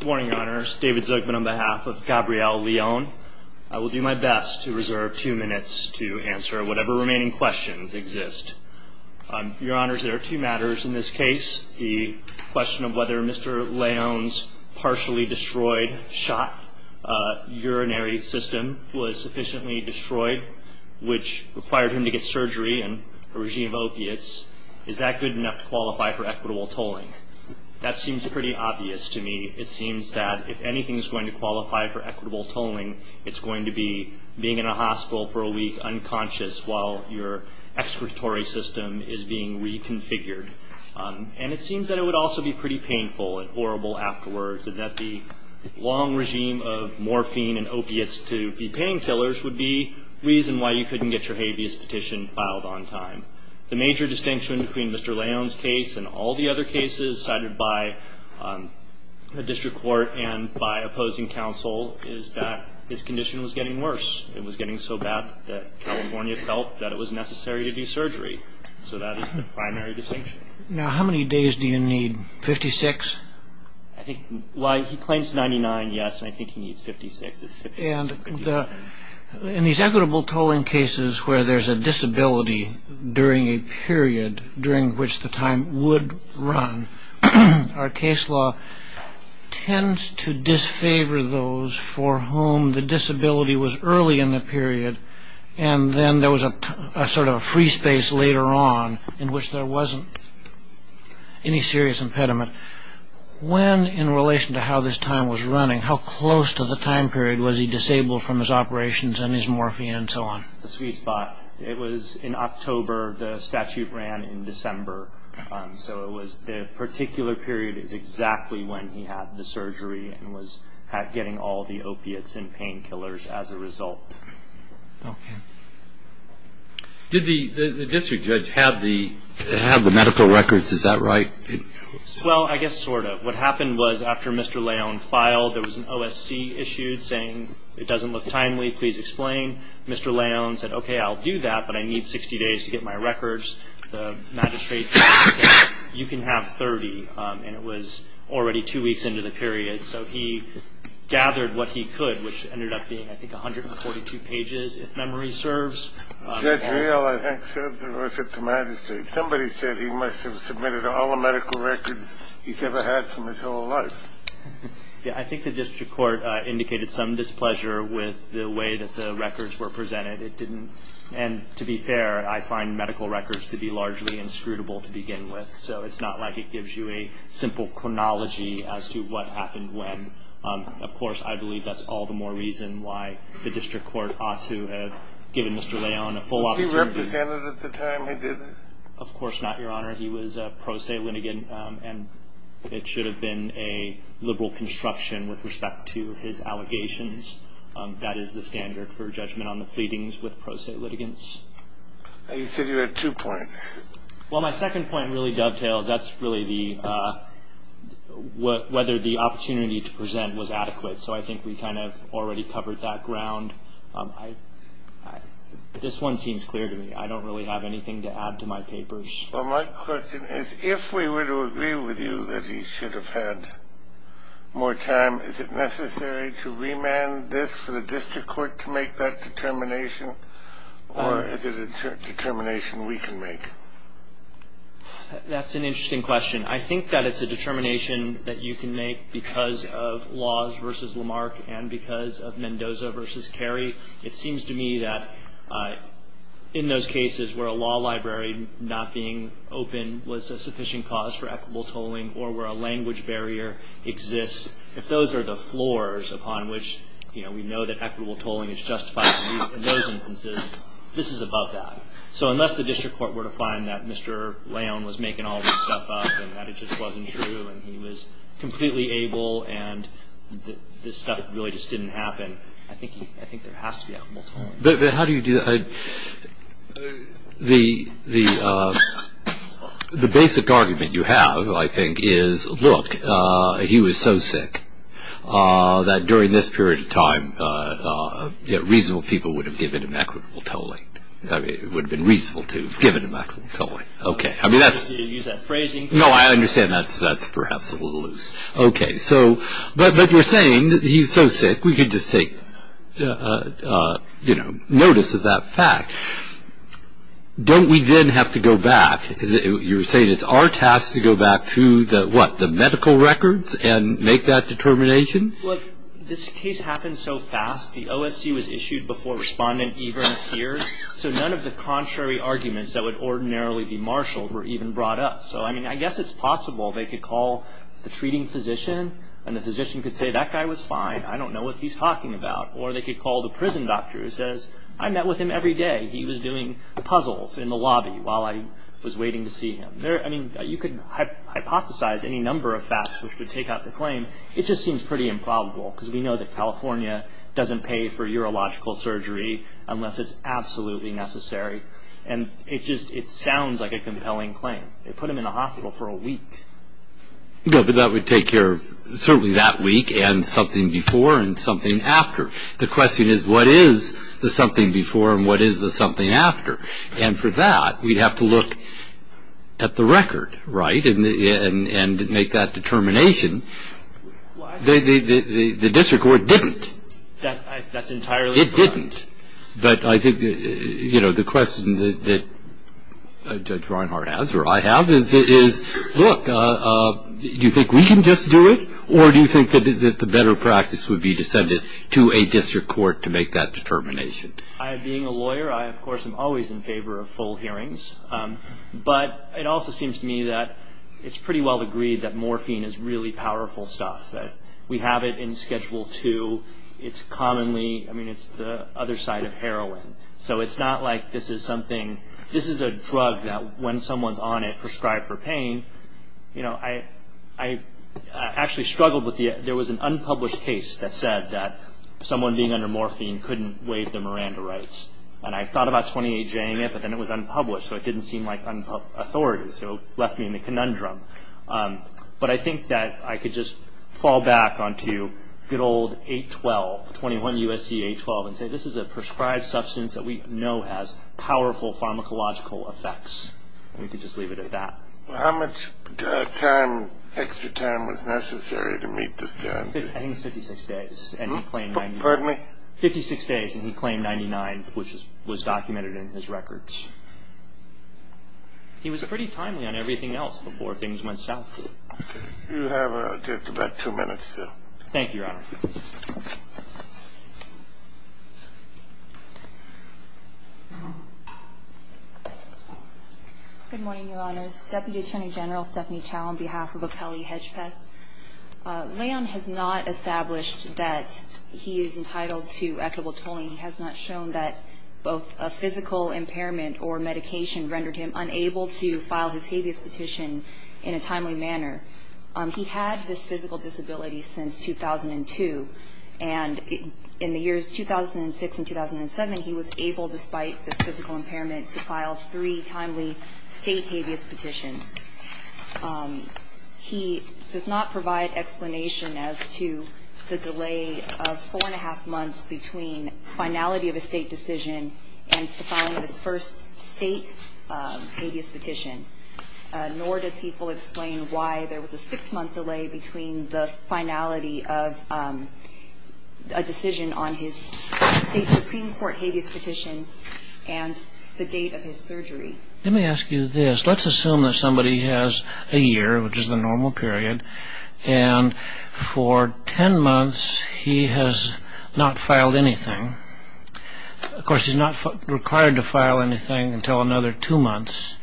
Good morning, Your Honors. David Zucman on behalf of Gabrielle Leon. I will do my best to reserve two minutes to answer whatever remaining questions exist. Your Honors, there are two matters in this case. The question of whether Mr. Leon's partially destroyed shot urinary system was sufficiently destroyed, which required him to get surgery and a regime of opiates. Is that good enough to qualify for equitable tolling? That seems pretty obvious to me. It seems that if anything is going to qualify for equitable tolling, it's going to be being in a hospital for a week unconscious while your excretory system is being reconfigured. And it seems that it would also be pretty painful and horrible afterwards, and that the long regime of morphine and opiates to be painkillers would be the reason why you couldn't get your habeas petition filed on time. The major distinction between Mr. Leon's case and all the other cases cited by the district court and by opposing counsel is that his condition was getting worse. It was getting so bad that California felt that it was necessary to do surgery. So that is the primary distinction. Now, how many days do you need? 56? I think, well, he claims 99, yes, and I think he needs 56. In these equitable tolling cases where there's a disability during a period during which the time would run, our case law tends to disfavor those for whom the disability was early in the period and then there was a sort of free space later on in which there wasn't any serious impediment. When, in relation to how this time was running, how close to the time period was he disabled from his operations and his morphine and so on? The sweet spot. It was in October. The statute ran in December. So it was the particular period is exactly when he had the surgery and was getting all the opiates and painkillers as a result. Okay. Did the district judge have the medical records? Is that right? Well, I guess sort of. What happened was after Mr. Leon filed, there was an OSC issued saying it doesn't look timely. Please explain. Mr. Leon said, okay, I'll do that, but I need 60 days to get my records. The magistrate said, you can have 30, and it was already two weeks into the period. So he gathered what he could, which ended up being, I think, 142 pages, if memory serves. Judge Real, I think, sent the records to the magistrate. Somebody said he must have submitted all the medical records he's ever had from his whole life. Yeah, I think the district court indicated some displeasure with the way that the records were presented. It didn't. And to be fair, I find medical records to be largely inscrutable to begin with, so it's not like it gives you a simple chronology as to what happened when. Of course, I believe that's all the more reason why the district court ought to have given Mr. Leon a full opportunity. Was he represented at the time he did it? Of course not, Your Honor. He was a pro se litigant, and it should have been a liberal construction with respect to his allegations. That is the standard for judgment on the pleadings with pro se litigants. You said you had two points. Well, my second point really dovetails. That's really whether the opportunity to present was adequate. So I think we kind of already covered that ground. This one seems clear to me. I don't really have anything to add to my papers. Well, my question is if we were to agree with you that he should have had more time, is it necessary to remand this for the district court to make that determination, or is it a determination we can make? That's an interesting question. I think that it's a determination that you can make because of Laws v. Lamarck and because of Mendoza v. Carey. It seems to me that in those cases where a law library not being open was a sufficient cause for equitable tolling or where a language barrier exists, if those are the floors upon which, you know, we know that equitable tolling is justified in those instances, this is above that. So unless the district court were to find that Mr. Leon was making all this stuff up and that it just wasn't true and he was completely able and this stuff really just didn't happen, I think there has to be equitable tolling. But how do you do that? The basic argument you have, I think, is, look, he was so sick that during this period of time, reasonable people would have given him equitable tolling. It would have been reasonable to give him equitable tolling. Okay. You use that phrasing. No, I understand. That's perhaps a little loose. Okay. But you're saying that he's so sick we could just take, you know, notice of that fact. Don't we then have to go back? You're saying it's our task to go back to the, what, the medical records and make that determination? Look, this case happened so fast. The OSC was issued before respondent even appeared, so none of the contrary arguments that would ordinarily be marshaled were even brought up. So, I mean, I guess it's possible they could call the treating physician and the physician could say, that guy was fine, I don't know what he's talking about. Or they could call the prison doctor who says, I met with him every day. He was doing puzzles in the lobby while I was waiting to see him. I mean, you could hypothesize any number of facts which would take out the claim. It just seems pretty improbable, because we know that California doesn't pay for urological surgery unless it's absolutely necessary. And it just, it sounds like a compelling claim. They put him in a hospital for a week. No, but that would take care of certainly that week and something before and something after. The question is, what is the something before and what is the something after? And for that, we'd have to look at the record, right, and make that determination. The district court didn't. That's entirely correct. It didn't. But I think, you know, the question that Judge Reinhart has, or I have, is, look, do you think we can just do it, or do you think that the better practice would be to send it to a district court to make that determination? I, being a lawyer, I, of course, am always in favor of full hearings. But it also seems to me that it's pretty well agreed that morphine is really powerful stuff, that we have it in Schedule II. It's commonly, I mean, it's the other side of heroin. So it's not like this is something, this is a drug that when someone's on it, prescribed for pain. You know, I actually struggled with the, there was an unpublished case that said that someone being under morphine couldn't waive their Miranda rights. And I thought about 28J-ing it, but then it was unpublished, so it didn't seem like authority, so it left me in the conundrum. But I think that I could just fall back onto good old 812, 21 U.S.C. 812, and say this is a prescribed substance that we know has powerful pharmacological effects. We could just leave it at that. Well, how much time, extra time, was necessary to meet this guarantee? I think it was 56 days, and he claimed 99. Pardon me? Fifty-six days, and he claimed 99, which was documented in his records. He was pretty timely on everything else before things went south. You have just about two minutes, sir. Thank you, Your Honor. Good morning, Your Honors. Deputy Attorney General Stephanie Chow on behalf of Apelli Hedge Pet. Leon has not established that he is entitled to equitable tolling. He has not shown that both a physical impairment or medication rendered him unable to file his habeas petition in a timely manner. He had this physical disability since 2002. And in the years 2006 and 2007, he was able, despite this physical impairment, to file three timely state habeas petitions. He does not provide explanation as to the delay of four-and-a-half months between finality of a state decision and the filing of his first state habeas petition, nor does he fully explain why there was a six-month delay between the finality of a decision on his state Supreme Court habeas petition and the date of his surgery. Let me ask you this. Let's assume that somebody has a year, which is the normal period, and for 10 months he has not filed anything. Of course, he's not required to file anything until another two months.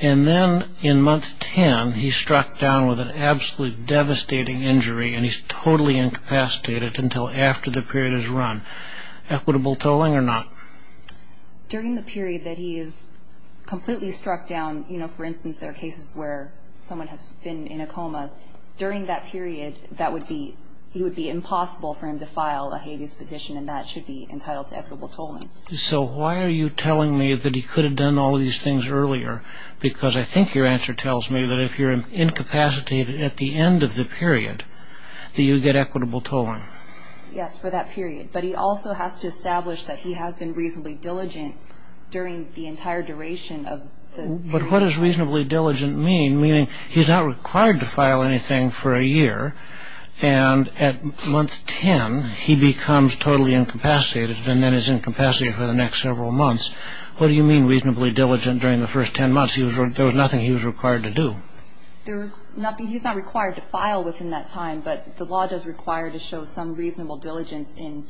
And then in month 10, he's struck down with an absolutely devastating injury, and he's totally incapacitated until after the period is run. Equitable tolling or not? During the period that he is completely struck down, you know, for instance, there are cases where someone has been in a coma. During that period, he would be impossible for him to file a habeas petition, and that should be entitled to equitable tolling. So why are you telling me that he could have done all of these things earlier? Because I think your answer tells me that if you're incapacitated at the end of the period, that you get equitable tolling. Yes, for that period. But he also has to establish that he has been reasonably diligent during the entire duration of the period. But what does reasonably diligent mean? Meaning he's not required to file anything for a year, and at month 10, he becomes totally incapacitated and then is incapacitated for the next several months. What do you mean reasonably diligent during the first 10 months? There was nothing he was required to do. He's not required to file within that time, but the law does require to show some reasonable diligence in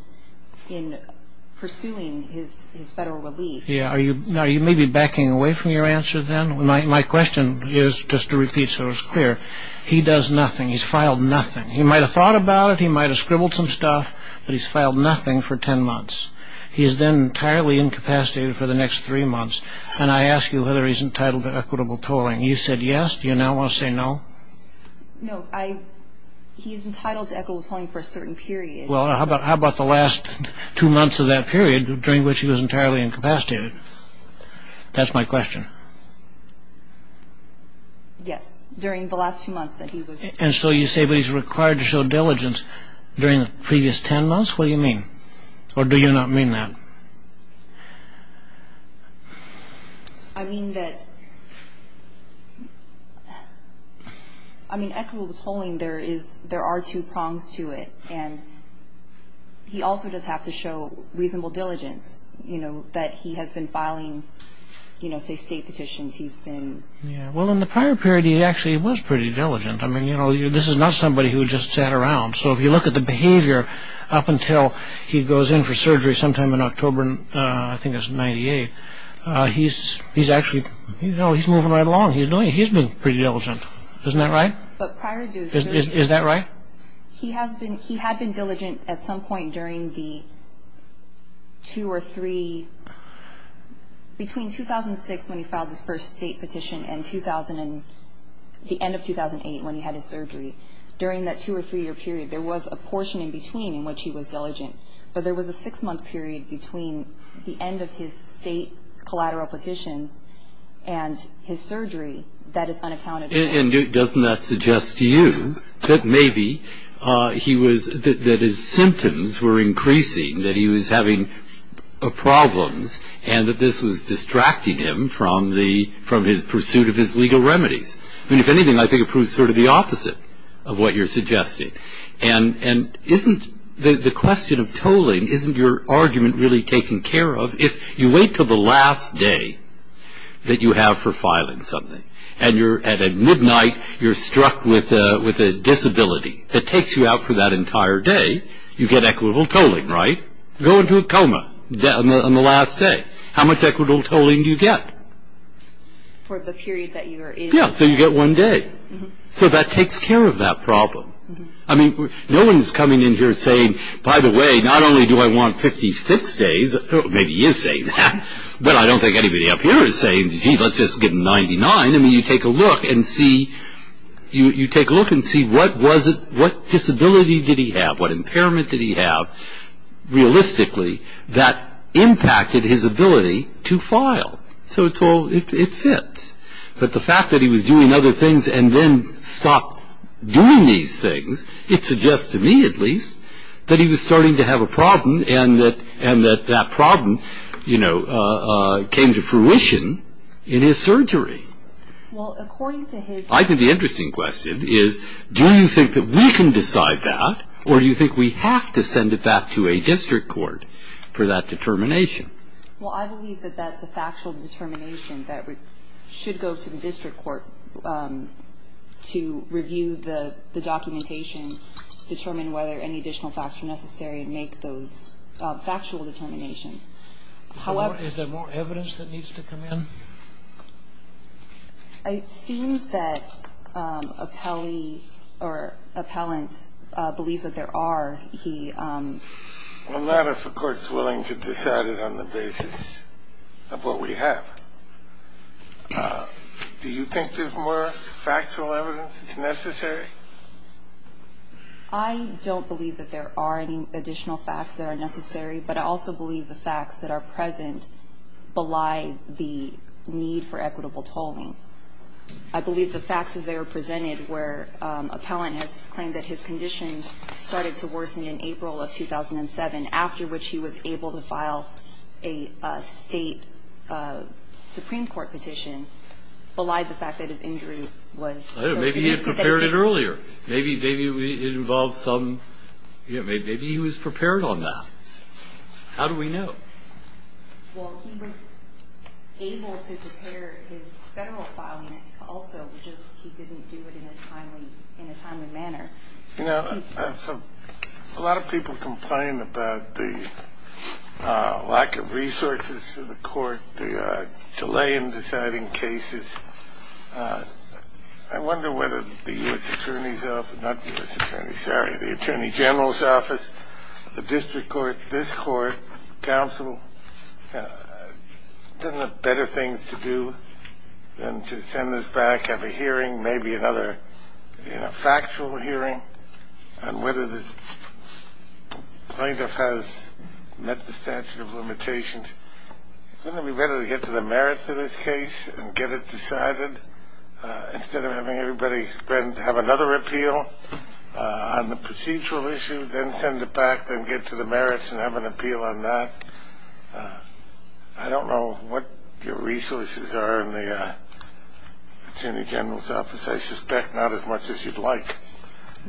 pursuing his federal relief. Are you maybe backing away from your answer then? My question is, just to repeat so it's clear, he does nothing. He's filed nothing. He might have thought about it. He might have scribbled some stuff, but he's filed nothing for 10 months. He's then entirely incapacitated for the next three months, and I ask you whether he's entitled to equitable tolling. You said yes. Do you now want to say no? No. He's entitled to equitable tolling for a certain period. Well, how about the last two months of that period during which he was entirely incapacitated? That's my question. Yes, during the last two months that he was. And so you say he's required to show diligence during the previous 10 months? What do you mean? Or do you not mean that? I mean that equitable tolling, there are two prongs to it, and he also does have to show reasonable diligence, that he has been filing, say, state petitions. Well, in the prior period he actually was pretty diligent. This is not somebody who just sat around, so if you look at the behavior up until he goes in for surgery sometime in October, I think it was in 1998, he's moving right along. He's been pretty diligent. Isn't that right? Is that right? He had been diligent at some point during the two or three, between 2006 when he filed his first state petition and the end of 2008 when he had his surgery. During that two- or three-year period, there was a portion in between in which he was diligent, but there was a six-month period between the end of his state collateral petitions and his surgery that is unaccounted for. And doesn't that suggest to you that maybe that his symptoms were increasing, that he was having problems, and that this was distracting him from his pursuit of his legal remedies? I mean, if anything, I think it proves sort of the opposite of what you're suggesting. And isn't the question of tolling, isn't your argument really taken care of? If you wait until the last day that you have for filing something, and at midnight you're struck with a disability that takes you out for that entire day, you get equitable tolling, right? Go into a coma on the last day. How much equitable tolling do you get? For the period that you are in. Yeah, so you get one day. So that takes care of that problem. I mean, no one's coming in here saying, by the way, not only do I want 56 days, maybe he is saying that, but I don't think anybody up here is saying, gee, let's just get 99. I mean, you take a look and see what disability did he have, what impairment did he have, realistically, that impacted his ability to file. So it fits. But the fact that he was doing other things and then stopped doing these things, it suggests to me, at least, that he was starting to have a problem and that that problem came to fruition in his surgery. I think the interesting question is do you think that we can decide that or do you think we have to send it back to a district court for that determination? Well, I believe that that's a factual determination that should go to the district court to review the documentation, determine whether any additional facts are necessary and make those factual determinations. Is there more evidence that needs to come in? It seems that appellee or appellant believes that there are. Well, not if a court is willing to decide it on the basis of what we have. Do you think there's more factual evidence that's necessary? I don't believe that there are any additional facts that are necessary, but I also believe the facts that are present belie the need for equitable tolling. I believe the facts as they are presented where appellant has claimed that his condition started to worsen in April of 2007, after which he was able to file a state Supreme Court petition, belied the fact that his injury was so significant. Maybe he had prepared it earlier. Maybe he was prepared on that. How do we know? Well, he was able to prepare his federal filing also, just he didn't do it in a timely manner. You know, a lot of people complain about the lack of resources to the court, the delay in deciding cases. I wonder whether the U.S. Attorney's Office, not the U.S. Attorney, sorry, the Attorney General's Office, the district court, this court, counsel doesn't have better things to do than to send this back, have a hearing, maybe another factual hearing, and whether this plaintiff has met the statute of limitations. Wouldn't it be better to get to the merits of this case and get it decided instead of having everybody have another appeal on the procedural issue, then send it back, then get to the merits and have an appeal on that? I don't know what your resources are in the Attorney General's Office. I suspect not as much as you'd like.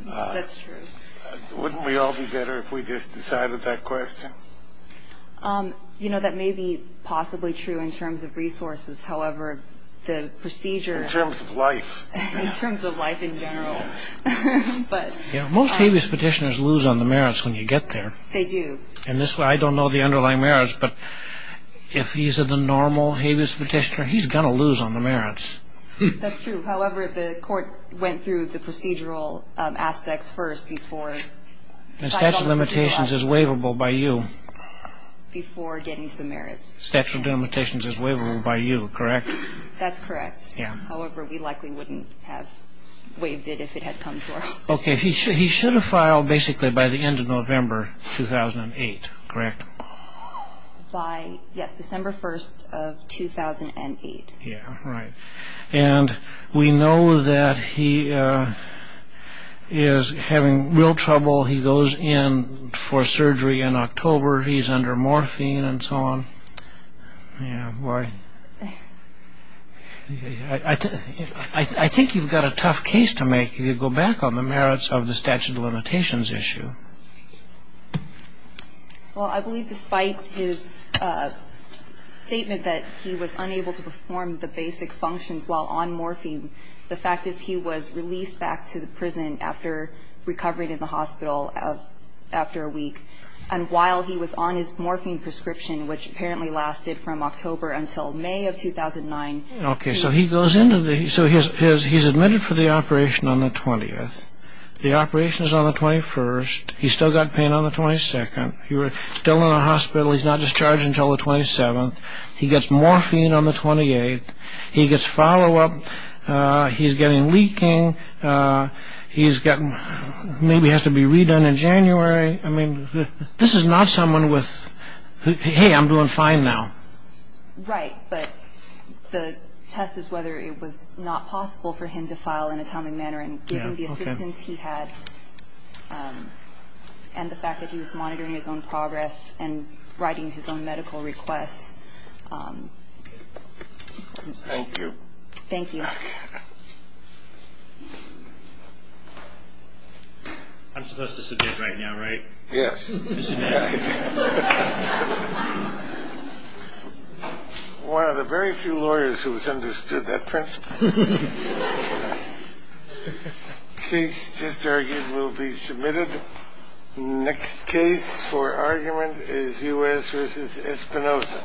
That's true. Wouldn't we all be better if we just decided that question? You know, that may be possibly true in terms of resources. However, the procedure In terms of life. In terms of life in general. Most habeas petitioners lose on the merits when you get there. They do. And this way, I don't know the underlying merits, but if he's in the normal habeas petitioner, he's going to lose on the merits. That's true. However, the court went through the procedural aspects first before. The statute of limitations is waivable by you. Before getting to the merits. The statute of limitations is waivable by you, correct? That's correct. However, we likely wouldn't have waived it if it had come to our office. Okay, he should have filed basically by the end of November 2008, correct? By, yes, December 1st of 2008. Yeah, right. And we know that he is having real trouble. He goes in for surgery in October. He's under morphine and so on. Yeah, boy. I think you've got a tough case to make if you go back on the merits of the statute of limitations issue. Well, I believe despite his statement that he was unable to perform the basic functions while on morphine, the fact is he was released back to the prison after recovering in the hospital after a week. And while he was on his morphine prescription, which apparently lasted from October until May of 2009. Okay, so he's admitted for the operation on the 20th. The operation is on the 21st. He's still got pain on the 22nd. He's still in the hospital. He's not discharged until the 27th. He gets morphine on the 28th. He gets follow-up. He's getting leaking. He maybe has to be redone in January. This is not someone with, hey, I'm doing fine now. Right, but the test is whether it was not possible for him to file in a timely manner and given the assistance he had and the fact that he was monitoring his own progress and writing his own medical requests. Thank you. Thank you. I'm supposed to submit right now, right? Yes. One of the very few lawyers who has understood that principle. Case just argued will be submitted. Next case for argument is U.S. versus Espinosa.